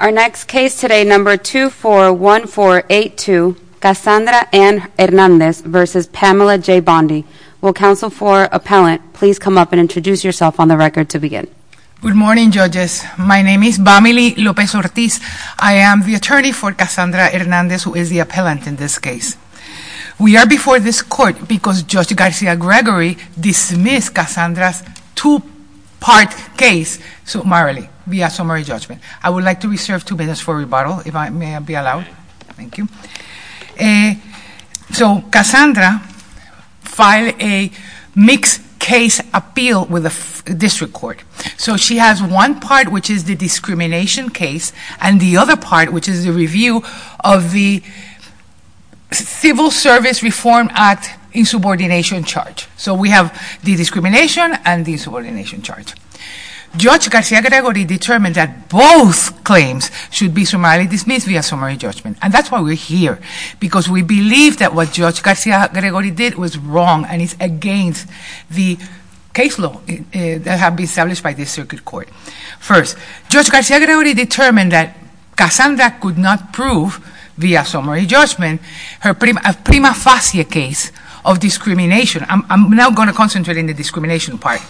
Our next case today, number 241482, Cassandra Ann Hernandez versus Pamela J. Bondi. Will counsel for appellant please come up and introduce yourself on the record to begin. Good morning judges. My name is Vamily Lopez Ortiz. I am the attorney for Cassandra Hernandez who is the appellant in this case. We are before this court because Judge Garcia Gregory dismissed Cassandra's two-part case summarily via summary judgment. I would like to reserve two minutes for rebuttal if I may be allowed. Thank you. So Cassandra filed a mixed case appeal with the district court. So she has one part which is the discrimination case and the other part which is the review of the Civil Service Reform Act insubordination charge. So we have the discrimination and the insubordination charge. Judge Garcia Gregory determined that both claims should be summarily dismissed via summary judgment. And that's why we're here. Because we believe that what Judge Garcia Gregory did was wrong and is against the case law that had been established by the circuit court. First, Judge Garcia Gregory determined that Cassandra could not prove via summary judgment her prima facie case of discrimination. I'm now going to concentrate on the discrimination part.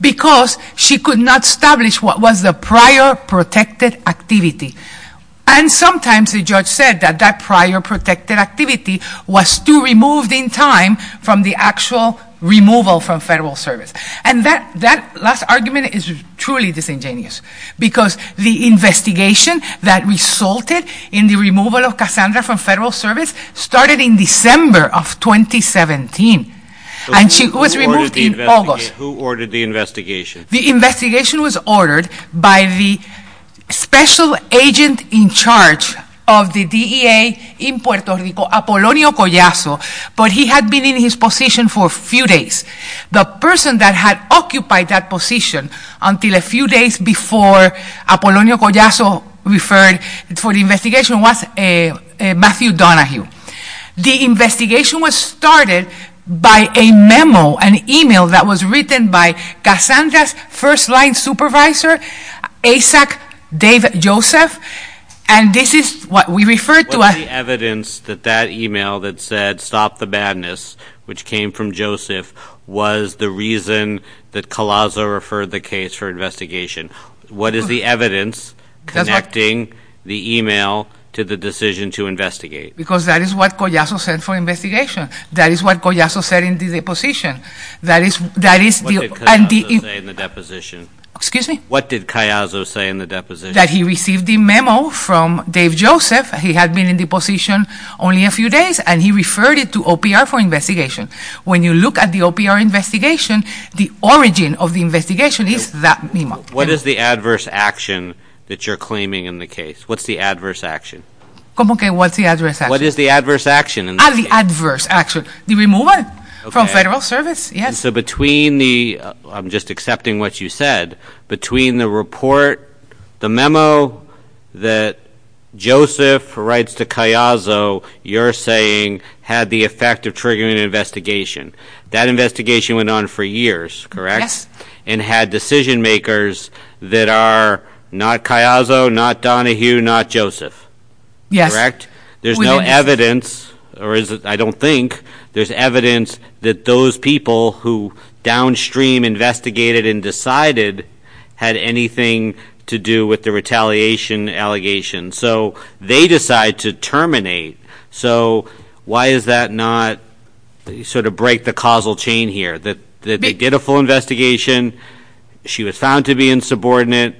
Because she could not establish what was the prior protected activity. And sometimes the judge said that that prior protected activity was too removed in time from the actual removal from Federal Service. And that last argument is truly disingenuous. Because the investigation that resulted in the removal of Cassandra from Federal Service started in December of 2017. And she was removed in August. Who ordered the investigation? The investigation was ordered by the special agent in charge of the DEA in Puerto Rico, Apolonio Collazo. But he had been in his position for a few days. The person that had occupied that position until a few days before Apolonio Collazo referred for the investigation was Matthew Donahue. The investigation was started by a memo, an email that was written by Cassandra's first-line supervisor, ASAC Dave Joseph. And this is what we referred to as What is the evidence that that email that said stop the badness, which came from Joseph, was the reason that Collazo referred the case for investigation? What is the evidence connecting the email to the decision to investigate? Because that is what Collazo said for investigation. That is what Collazo said in the deposition. That is What did Collazo say in the deposition? What did Collazo say in the deposition? That he received the memo from Dave Joseph. He had been in the position only a few days. And he referred it to OPR for investigation. When you look at the OPR investigation, the origin of the investigation is that memo. What is the adverse action that you're claiming in the case? What's the adverse action? ¿Cómo que what's the adverse action? What is the adverse action in the case? Ah, the adverse action. The removal from federal service, yes. So between the, I'm just accepting what you said, between the report, the memo that Joseph writes to Collazo, you're saying had the effect of triggering an investigation. That investigation went on for years, correct? Yes. And had decision-makers that are not Collazo, not Donahue, not Joseph. Yes. There's no evidence, or is it, I don't think, there's evidence that those people who downstream investigated and decided had anything to do with the retaliation allegation. So they decide to terminate. So why is that not, sort of break the causal chain here? They did a full investigation. She was found to be insubordinate.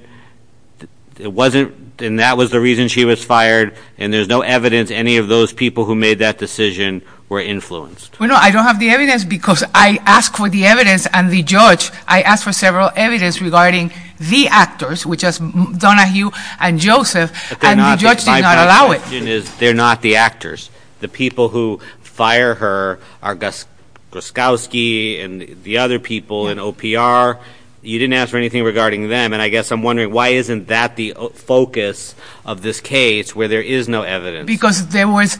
It wasn't, and that was the reason she was fired. And there's no evidence any of those people who made that decision were influenced. Well, no, I don't have the evidence because I asked for the evidence and the judge, I asked for several evidence regarding the actors, which is Donahue and Joseph, and the judge did not allow it. My question is, they're not the actors. The people who fire her are Gorskowski and the other people in OPR. You didn't ask for anything regarding them. And I guess I'm wondering why isn't that the focus of this case where there is no evidence? Because there was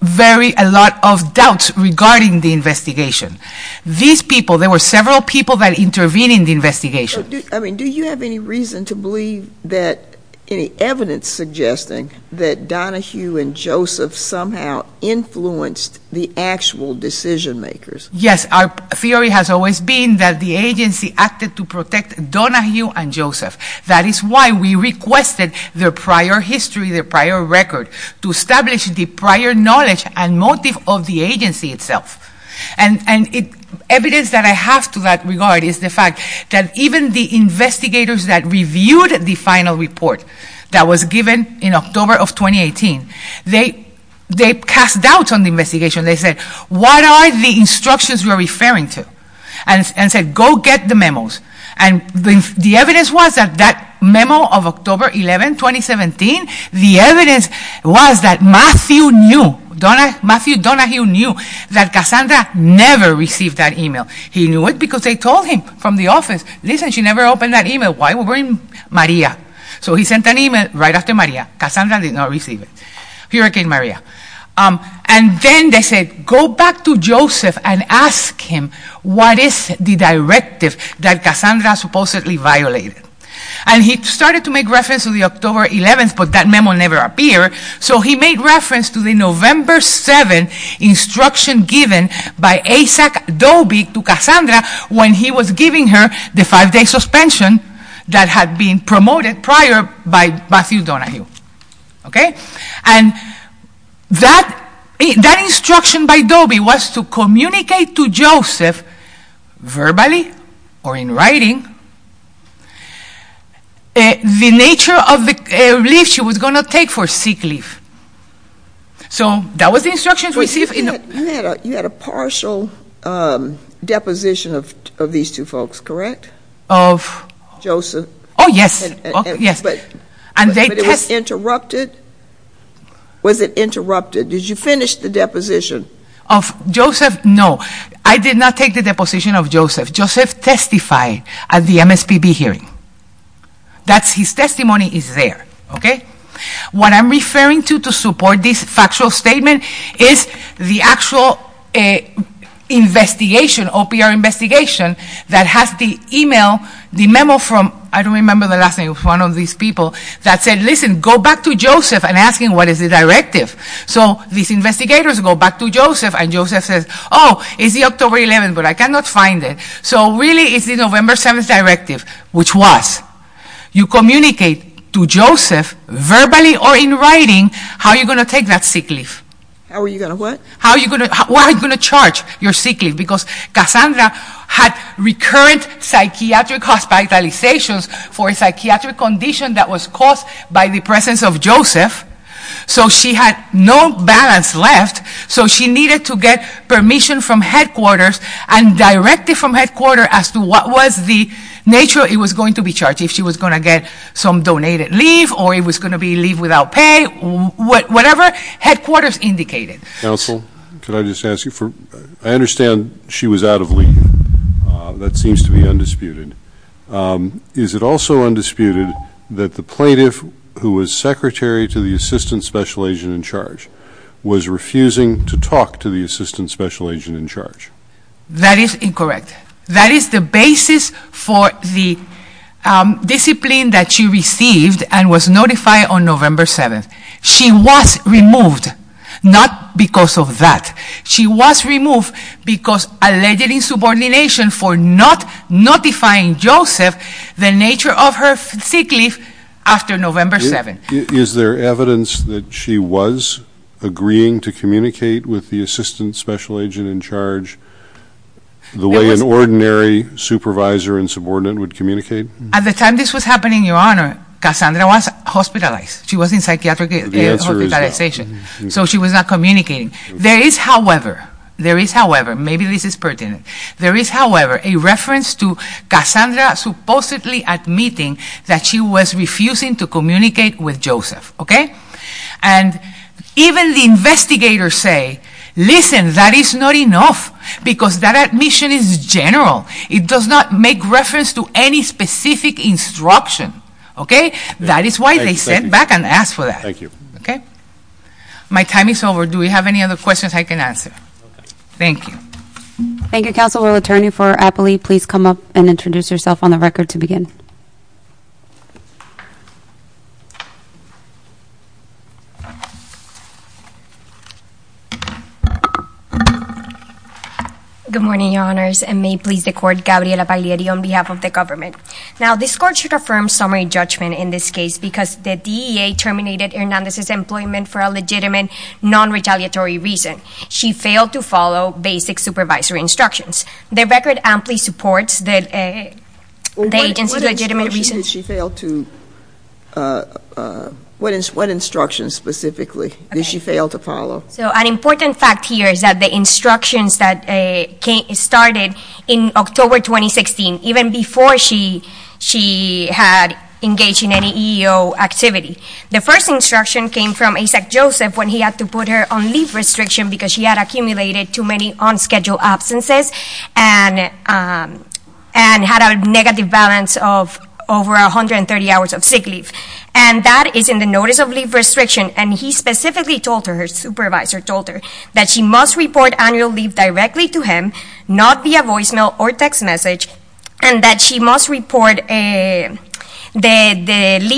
very, a lot of doubts regarding the investigation. These people, there were several people that intervened in the investigation. I mean, do you have any reason to believe that any evidence suggesting that Donahue and Joseph somehow influenced the actual decision makers? Yes, our theory has always been that the agency acted to protect Donahue and Joseph. That is why we requested their prior history, their prior record, to establish the prior knowledge and motive of the agency itself. And evidence that I have to that regard is the fact that even the investigators that reviewed the final report that was given in October of 2018, they cast doubts on the investigation. They said, what are the instructions you're referring to? And said, go get the memos. And the evidence was that that memo of October 11, 2017, the evidence was that Matthew Donahue knew that Cassandra never received that email. He knew it because they told him from the office, listen, she never opened that email. Why would we bring Maria? So he sent an email right after Maria. Cassandra did not receive it. Hurricane Maria. And then they said, go back to Joseph and ask him what is the directive that Cassandra supposedly violated. And he started to make reference to the October 11th, but that memo never appeared. So he made reference to the November 7th instruction given by Asac Dobie to Cassandra when he was giving her the five-day suspension that had been promoted prior by Matthew Donahue. Okay? And that instruction by Dobie was to communicate to Joseph verbally or in writing the nature of the leave she was going to take for sick leave. So that was the instruction received. You had a partial deposition of these two folks, correct? Of? Joseph. Oh, yes. But it was interrupted? Was it interrupted? Did you finish the deposition? Of Joseph? No. I did not take the deposition of Joseph. Joseph testified at the MSPB hearing. That's his testimony is there. Okay? What I'm referring to to support this factual statement is the actual investigation, OPR investigation that has the email, the memo from I don't remember the last name of one of these people that said, listen, go back to Joseph and ask him what is the directive. So these investigators go back to Joseph and Joseph says, oh, it's the October 11th, but I cannot find it. So really it's the November 7th directive, which was you communicate to Joseph verbally or in writing how you're going to take that sick leave. How are you going to what? How are you going to charge your sick leave? Because Cassandra had recurrent psychiatric hospitalizations for a psychiatric condition that was caused by the presence of Joseph. So she had no balance left. So she needed to get permission from headquarters and directive from headquarters as to what was the nature it was going to be charged. If she was going to get some donated leave or it was going to be leave without pay, whatever headquarters indicated. Counsel, could I just ask you, I understand she was out of leave. That seems to be undisputed. Is it also undisputed that the plaintiff who was secretary to the assistant special agent in charge was refusing to talk to the assistant special agent in charge? That is incorrect. That is the basis for the discipline that she received and was notified on November 7th. She was removed, not because of that. She was removed because allegedly in subordination for not notifying Joseph the nature of her sick leave after November 7th. Is there evidence that she was agreeing to communicate with the assistant special agent in charge the way an ordinary supervisor and subordinate would communicate? At the time this was happening, Your Honor, Cassandra was hospitalized. She was in psychiatric hospitalization. So she was not communicating. There is, however, there is, however, maybe this is pertinent. There is, however, a reference to Cassandra supposedly admitting that she was refusing to communicate with Joseph. Okay? And even the investigators say, listen, that is not enough because that admission is general. It does not make reference to any specific instruction. Okay? That is why they sent back and asked for that. Thank you. Okay? My time is over. Do we have any other questions I can answer? Thank you. Thank you, Counselor. Attorney for Apley, please come up and introduce yourself on the record to begin. Good morning, Your Honors, and may it please the Court, Gabriela Paglieri on behalf of the government. Now, this Court should affirm summary judgment in this case because the EEA terminated Hernandez's employment for a legitimate, non-retaliatory reason. She failed to follow basic supervisory instructions. The record amply supports the agency's legitimate reasons. What instructions did she fail to, what instructions specifically did she fail to follow? So an important fact here is that the instructions that started in October 2016, even before she had engaged in any EEO activity, the first instruction came from ASEC Joseph when he had to put her on leave restriction because she had accumulated too many on-schedule absences and had a negative balance of over 130 hours of sick leave. And that is in the notice of leave restriction, and he specifically told her, her supervisor told her, that she must report the leave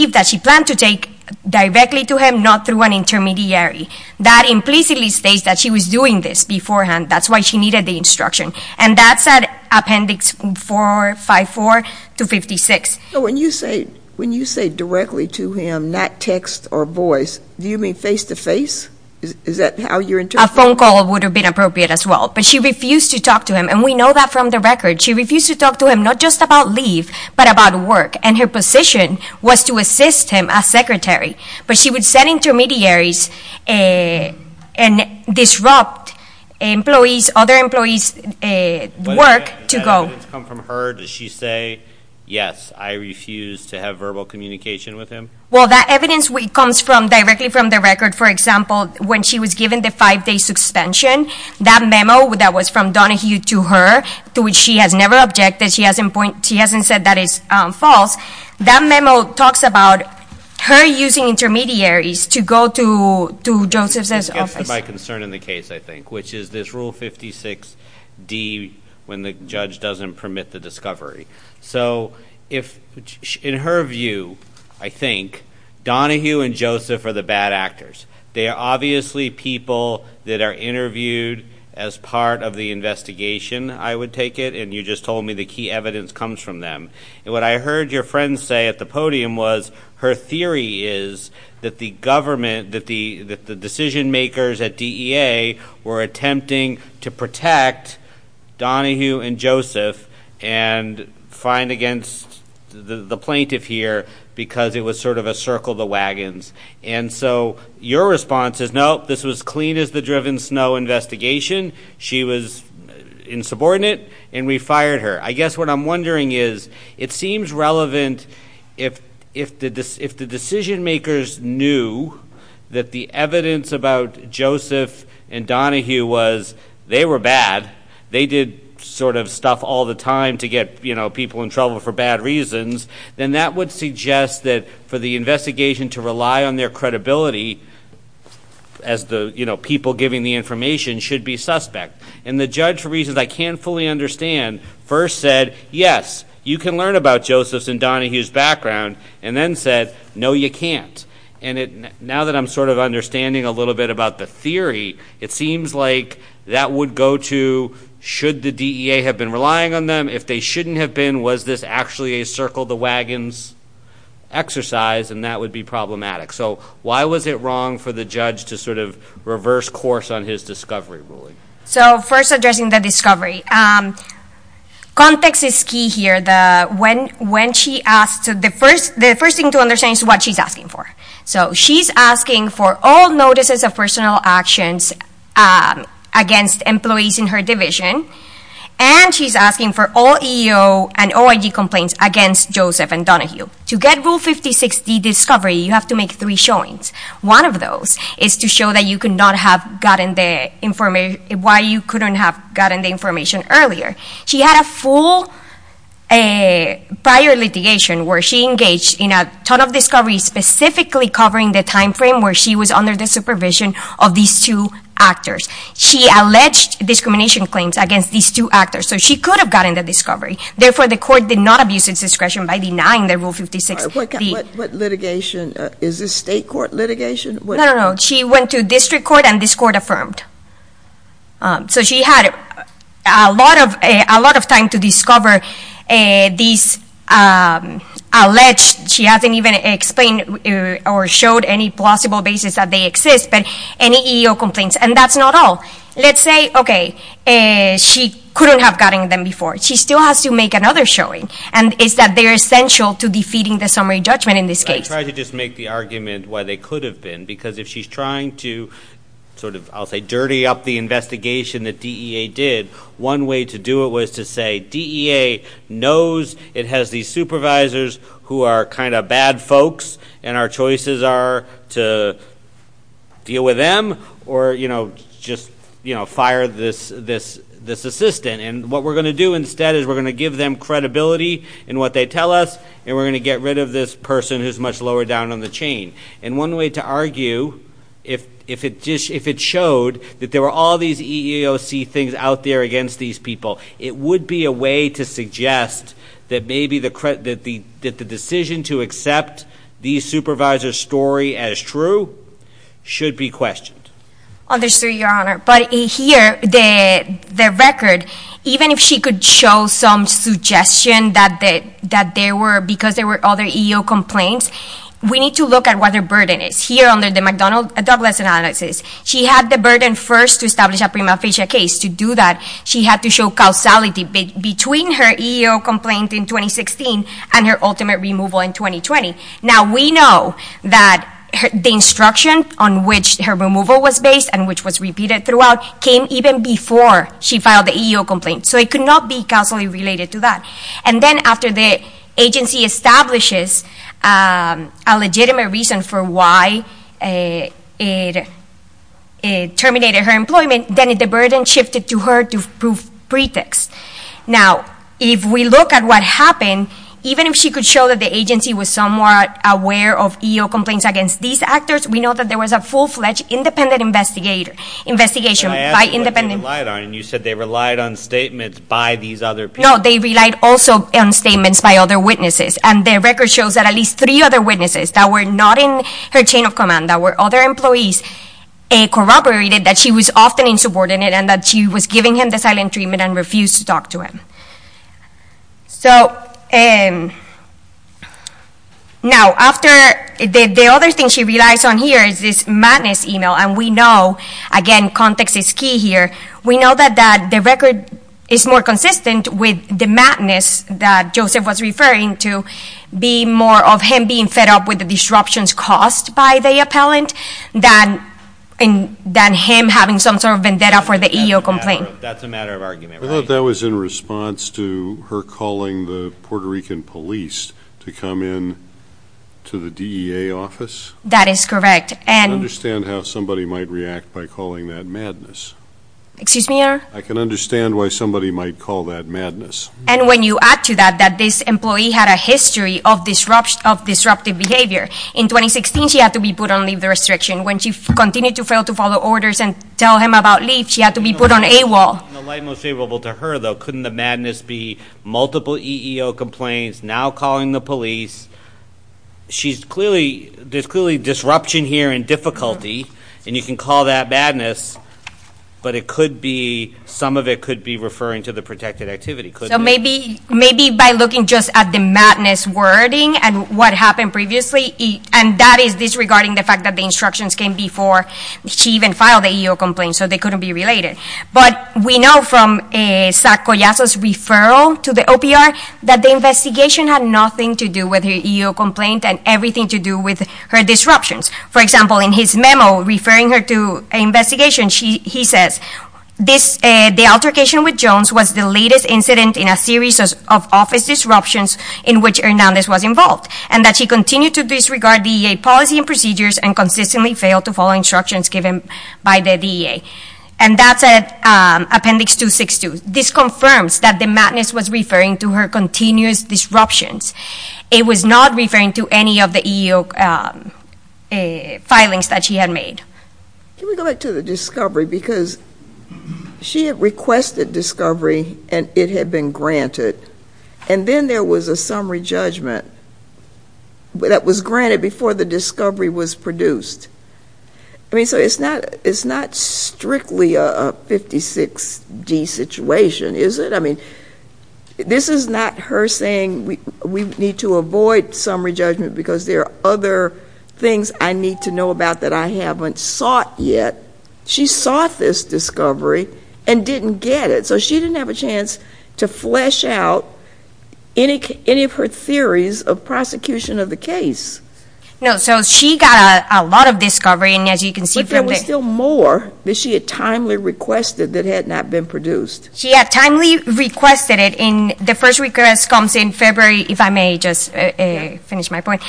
that she planned to take directly to him, not through an intermediary. That implicitly states that she was doing this beforehand. That's why she needed the instruction. And that's at Appendix 454 to 56. When you say, when you say directly to him, not text or voice, do you mean face-to-face? Is that how you're interpreting? A phone call would have been appropriate as well. But she refused to talk to him, and we know that from the record. She refused to talk to him not just about leave, but about work. And her position was to assist him as secretary. But she would send intermediaries and disrupt employees, other employees' work to go. Does that evidence come from her? Does she say, yes, I refuse to have verbal communication with him? Well, that evidence comes directly from the record. For example, when she was given the five-day suspension, that memo that was from Donahue to her, to which she has never objected. She hasn't said that is false. That memo talks about her using intermediaries to go to Joseph's office. This gets to my concern in the case, I think, which is this Rule 56D, when the judge doesn't permit the discovery. So, in her view, I think, Donahue and Joseph are the bad actors. They are obviously people that are interviewed as part of the investigation, I would take it. And you just told me the key evidence comes from them. What I heard your friend say at the podium was, her theory is that the decision-makers at DEA were attempting to protect Donahue and Joseph and fine against the plaintiff here, because it was sort of a circle of the wagons. And so, your response is, no, this was clean as the driven snow investigation. She was insubordinate, and we fired her. I guess what I'm wondering is, it seems relevant if the decision-makers knew that the evidence about Joseph and Donahue was, they were bad. They did sort of stuff all the time to get, you know, people in trouble for bad reasons, then that would suggest that for the investigation to rely on their credibility as the, you know, people giving the information should be suspect. And the judge, for reasons I can't fully understand, first said, yes, you can learn about Joseph's and Donahue's background, and then said, no, you can't. And now that I'm sort of understanding a little bit about the theory, it seems like that would go to, should the DEA have been relying on them? If they shouldn't have been, was this actually a circle of the wagons exercise? And that would be problematic. So, why was it wrong for the judge to sort of reverse course on his discovery ruling? So first, addressing the discovery. Context is key here. When she asked, the first thing to understand is what she's asking for. So, she's asking for all notices of personal actions against employees in her division, and she's asking for all EEO and OIG complaints against Joseph and Donahue. To get Rule 56D discovery, you have to make three showings. One of those is to show that you could not have gotten the information, why you couldn't have gotten the information earlier. She had a full prior litigation where she engaged in a ton of discoveries specifically covering the time frame where she was under the supervision of these two actors. She alleged discrimination claims against these two actors. So, she could have gotten the discovery. Therefore, the court did not abuse its discretion by denying the Rule 56D. What litigation? Is this state court litigation? No, no, no. She went to district court and this court affirmed. So, she had a lot of time to discover these alleged, she hasn't even explained or showed any plausible basis that they exist, but any EEO complaints. And that's not all. Let's say, okay, she couldn't have gotten them before. She still has to make another showing, and it's that they're essential to defeating the summary judgment in this case. I'm trying to just make the argument why they could have been, because if she's trying to sort of, I'll say, dirty up the investigation that DEA did, one way to do it was to say DEA knows it has these supervisors who are kind of bad folks, and our choices are to deal with them or just fire this assistant. And what we're going to do instead is we're going to give them credibility in what they tell us, and we're going to get rid of this person who's much lower down on the chain. And one way to argue, if it showed that there were all these EEOC things out there against these people, it would be a way to suggest that maybe the decision to accept these supervisors' story as true should be questioned. Understood, Your Honor. But here, the record, even if she could show some suggestion that there were, because there were other EEO complaints, we need to look at what her burden is. Here under the McDonald-Douglas analysis, she had the burden first to establish a prima facie case. To do that, she had to show causality between her EEO complaint in 2016 and her ultimate removal in 2020. Now, we know that the instruction on which her removal was based and which was repeated throughout came even before she filed the EEO complaint, so it cannot be causally related to that. And then after the agency establishes a legitimate reason for why it terminated her employment, then the burden shifted to her to prove pretext. Now, if we look at what happened, even if she could show that the agency was somewhat aware of EEO complaints against these actors, we know that there was a full-fledged independent investigation. I asked what they relied on, and you said they relied on statements by these other people. No, they relied also on statements by other witnesses, and the record shows that at least three other witnesses that were not in her chain of command, that were other employees, corroborated that she was often insubordinate and that she was giving him the silent treatment and refused to talk to him. So, now, after, the other thing she relies on here is this madness email, and we know – again, context is key here – we know that the record is more consistent with the madness that Joseph was referring to, being more of him being fed up with the disruptions caused by the appellant than him having some sort of vendetta for the EEO complaint. That's a matter of argument, right? I thought that was in response to her calling the Puerto Rican police to come in to the DEA office? That is correct, and I can understand how somebody might react by calling that madness. Excuse me, Your Honor? I can understand why somebody might call that madness. And when you add to that that this employee had a history of disruptive behavior, in 2016 she had to be put on leave of restriction. When she continued to fail to follow orders and tell him about leave, she had to be put on AWOL. In the light most favorable to her, though, couldn't the madness be multiple EEO complaints, now calling the police? She's clearly – there's clearly disruption here and difficulty, and you can call that madness, but it could be – some of it could be referring to the protected activity, couldn't So maybe by looking just at the madness wording and what happened previously, and that is disregarding the fact that the instructions came before she even filed the EEO complaint, so they couldn't be related. But we know from Zach Collazo's referral to the OPR that the investigation had nothing to do with her EEO complaint and everything to do with her disruptions. For example, in his memo referring her to an investigation, he says, the altercation with Jones was the latest incident in a series of office disruptions in which Hernandez was involved, and that she continued to disregard DEA policy and procedures and consistently failed to follow instructions given by the DEA. And that's at Appendix 262. This confirms that the madness was referring to her continuous disruptions. It was not referring to any of the EEO filings that she had made. Can we go back to the discovery? Because she had requested discovery and it had been granted, and then there was a summary judgment that was granted before the discovery was produced. I mean, so it's not strictly a 56-D situation, is it? I mean, this is not her saying we need to avoid summary judgment because there are other things I need to know about that I haven't sought yet. She sought this discovery and didn't get it. So she didn't have a chance to flesh out any of her theories of prosecution of the case. No, so she got a lot of discovery, and as you can see from the – But there was still more that she had timely requested that had not been produced. She had timely requested it in – the first request comes in February, if I may just finish my point.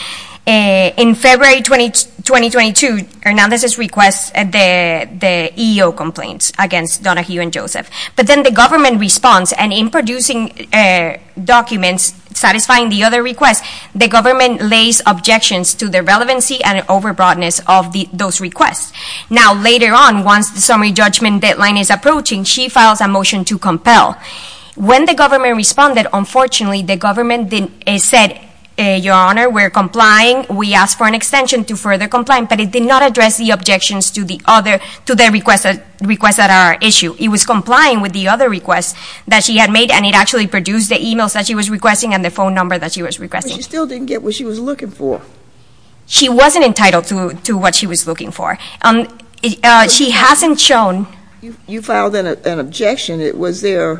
In February 2022, Hernandez's request, the EEO complaints against Donahue and Joseph. But then the government response, and in producing documents satisfying the other requests, the government lays objections to the relevancy and over-broadness of those requests. Now later on, once the summary judgment deadline is approaching, she files a motion to compel. When the government responded, unfortunately, the government said, Your Honor, we're complying. We asked for an extension to further comply, but it did not address the objections to the other – to the requests that are at issue. It was complying with the other requests that she had made, and it actually produced the emails that she was requesting and the phone number that she was requesting. But she still didn't get what she was looking for. She wasn't entitled to what she was looking for. She hasn't shown – You filed an objection. Was there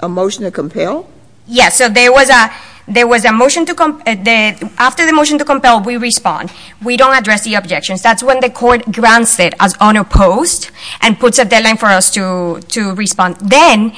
a motion to compel? Yes. So there was a – there was a motion to – after the motion to compel, we respond. We don't address the objections. That's when the court grants it as unopposed and puts a deadline for us to respond. Then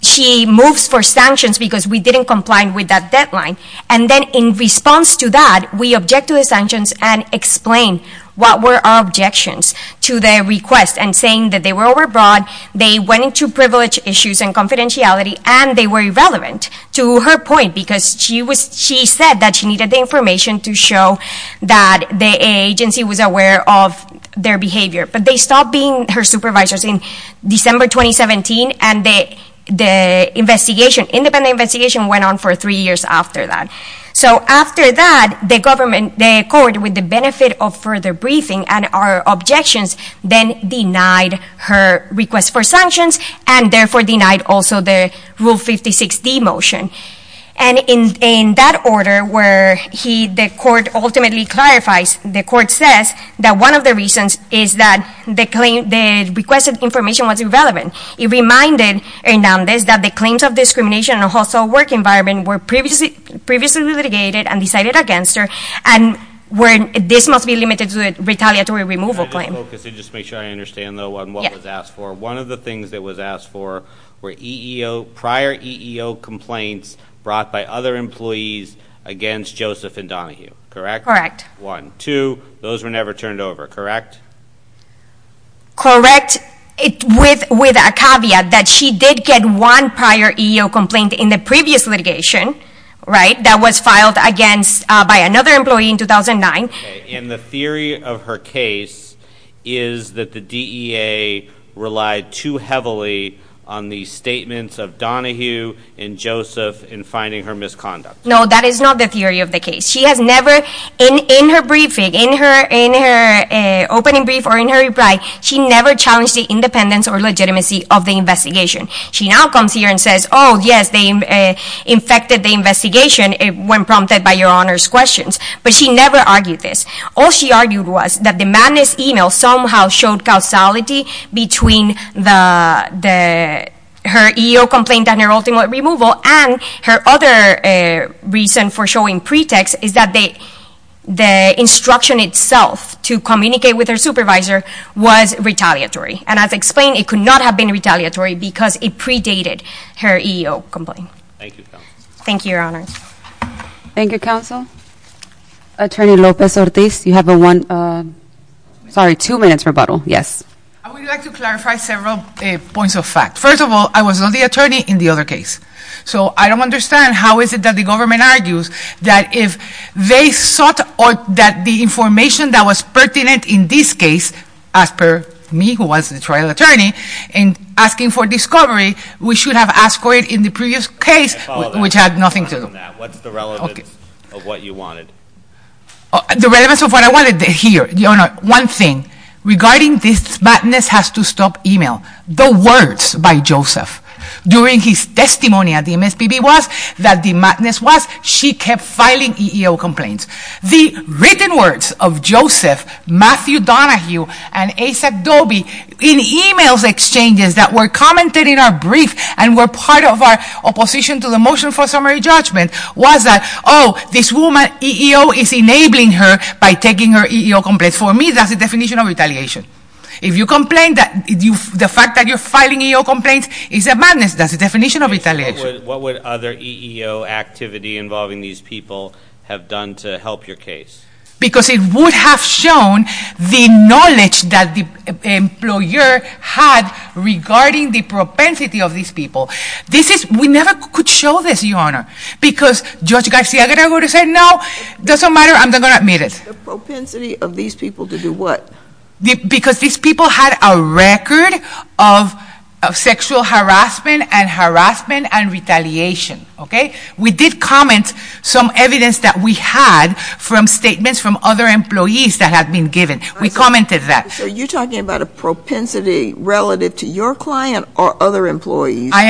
she moves for sanctions because we didn't comply with that deadline. And then in response to that, we object to the sanctions and explain what were our objections to the request and saying that they were overbroad, they went into privilege issues and confidentiality, and they were irrelevant to her point because she was – she said that she needed the information to show that the agency was aware of their behavior. But they stopped being her supervisors in December 2017, and the investigation – independent investigation went on for three years after that. So after that, the government – the court, with the benefit of further briefing and our objections, then denied her request for sanctions and therefore denied also the Rule 56D motion. And in that order where he – the court ultimately clarifies – the court says that one of the reasons that the claim – the request of information was irrelevant. It reminded Hernández that the claims of discrimination in a hostile work environment were previously litigated and decided against her, and this must be limited to a retaliatory removal claim. Let me just focus and just make sure I understand, though, on what was asked for. One of the things that was asked for were EEO – prior EEO complaints brought by other employees against Joseph and Donahue, correct? Correct. One. And two, those were never turned over, correct? Correct. With a caveat that she did get one prior EEO complaint in the previous litigation, right, that was filed against – by another employee in 2009. And the theory of her case is that the DEA relied too heavily on the statements of Donahue and Joseph in finding her misconduct. No, that is not the theory of the case. She has never – in her briefing, in her opening brief or in her reply, she never challenged the independence or legitimacy of the investigation. She now comes here and says, oh, yes, they infected the investigation when prompted by Your Honor's questions, but she never argued this. All she argued was that the Madness email somehow showed causality between the – her EEO complaint and her ultimate removal and her other reason for showing pretext is that they – the instruction itself to communicate with her supervisor was retaliatory. And as explained, it could not have been retaliatory because it predated her EEO complaint. Thank you, counsel. Thank you, Your Honor. Thank you, counsel. Attorney Lopez-Ortiz, you have a one – sorry, two minutes rebuttal, yes. I would like to clarify several points of fact. First of all, I was not the attorney in the other case, so I don't understand how is it that the government argues that if they sought or that the information that was pertinent in this case, as per me, who was the trial attorney, in asking for discovery, we should have asked for it in the previous case, which had nothing to do with that. What's the relevance of what you wanted? The relevance of what I wanted here, Your Honor, one thing, regarding this Madness has to stop email. The words by Joseph, during his testimony at the MSPB, was that the madness was she kept filing EEO complaints. The written words of Joseph, Matthew Donahue, and Asa Dobie in email exchanges that were commented in our brief and were part of our opposition to the motion for summary judgment was that, oh, this woman, EEO is enabling her by taking her EEO complaints. For me, that's the definition of retaliation. If you complain that the fact that you're filing EEO complaints is a madness, that's the definition of retaliation. What would other EEO activity involving these people have done to help your case? Because it would have shown the knowledge that the employer had regarding the propensity of these people. We never could show this, Your Honor, because Judge Garcia-Guerra would have said, no, doesn't matter, I'm not going to admit it. The propensity of these people to do what? Because these people had a record of sexual harassment and harassment and retaliation. We did comment some evidence that we had from statements from other employees that had been given. We commented that. So you're talking about a propensity relative to your client or other employees? I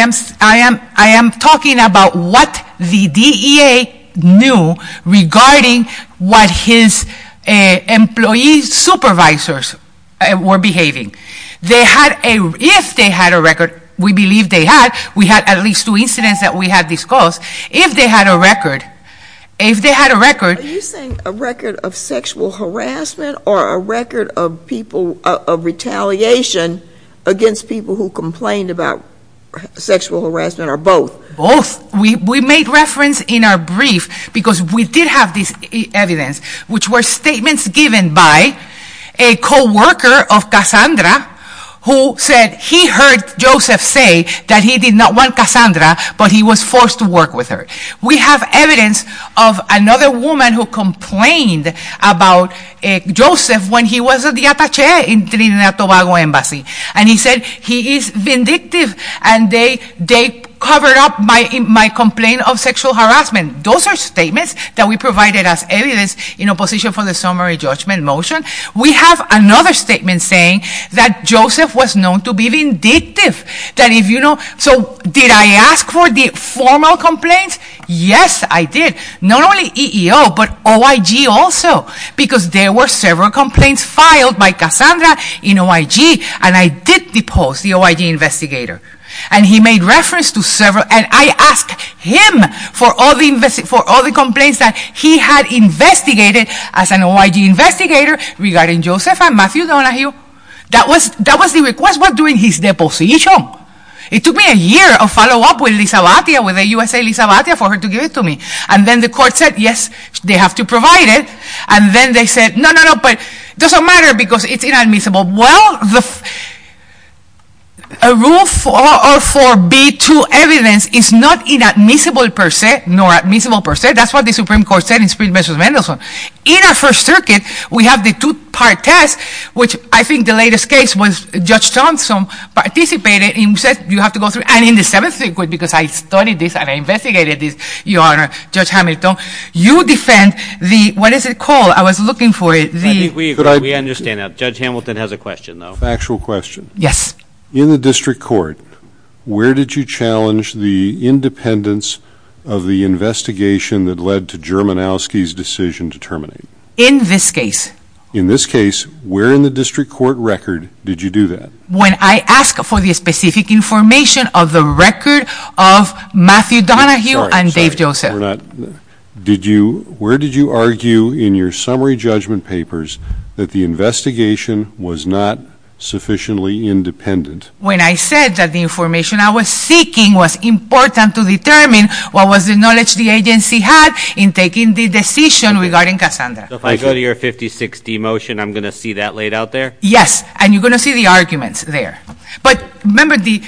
am talking about what the DEA knew regarding what his employee supervisors were behaving. They had a, if they had a record, we believe they had, we had at least two incidents that we had discussed, if they had a record, if they had a record. Are you saying a record of sexual harassment or a record of people, of retaliation against people who complained about sexual harassment or both? Both. We made reference in our brief, because we did have this evidence, which were statements given by a co-worker of Cassandra, who said he heard Joseph say that he did not want Cassandra, but he was forced to work with her. We have evidence of another woman who complained about Joseph when he was at the Atache in Trinidad Tobago Embassy. And he said he is vindictive and they covered up my complaint of sexual harassment. Those are statements that we provided as evidence in opposition for the summary judgment motion. We have another statement saying that Joseph was known to be vindictive, that if you know, so did I ask for the formal complaints? Yes, I did. Not only EEO, but OIG also, because there were several complaints filed by Cassandra in OIG, and I did depose the OIG investigator. And he made reference to several, and I asked him for all the complaints that he had investigated as an OIG investigator regarding Joseph and Matthew Donahue. That was the request while doing his deposition. It took me a year of follow-up with Elisabetia, with USA Elisabetia, for her to give it to me. And then the court said, yes, they have to provide it. And then they said, no, no, no, but it doesn't matter because it's inadmissible. Well, the rule for B2 evidence is not inadmissible per se, nor admissible per se. That's what the Supreme Court said in Supreme Justice Mendelsohn. In our First Circuit, we have the two-part test, which I think the latest case was Judge Thompson participated and said, you have to go through. And in the Seventh Circuit, because I studied this and I investigated this, Your Honor, Judge Hamilton, you defend the, what is it called? I was looking for it. I think we agree. We understand that. Judge Hamilton has a question, though. Factual question. Yes. In the district court, where did you challenge the independence of the investigation that led to Germanowski's decision to terminate? In this case. In this case, where in the district court record did you do that? When I asked for the specific information of the record of Matthew Donahue and Dave Joseph. We're not, did you, where did you argue in your summary judgment papers that the investigation was not sufficiently independent? When I said that the information I was seeking was important to determine what was the knowledge the agency had in taking the decision regarding Cassandra. So if I go to your 50-60 motion, I'm going to see that laid out there? Yes. And you're going to see the arguments there. But remember, the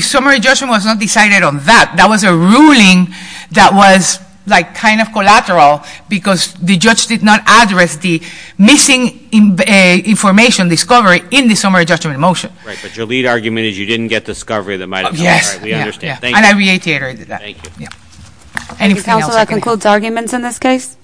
summary judgment was not decided on that. That was a ruling that was like kind of collateral because the judge did not address the missing information discovery in the summary judgment motion. Right. But your lead argument is you didn't get discovery that might have come from that. Yes. We understand. Thank you. And I reiterated that. Thank you. Anything else I can add? So that concludes arguments in this case?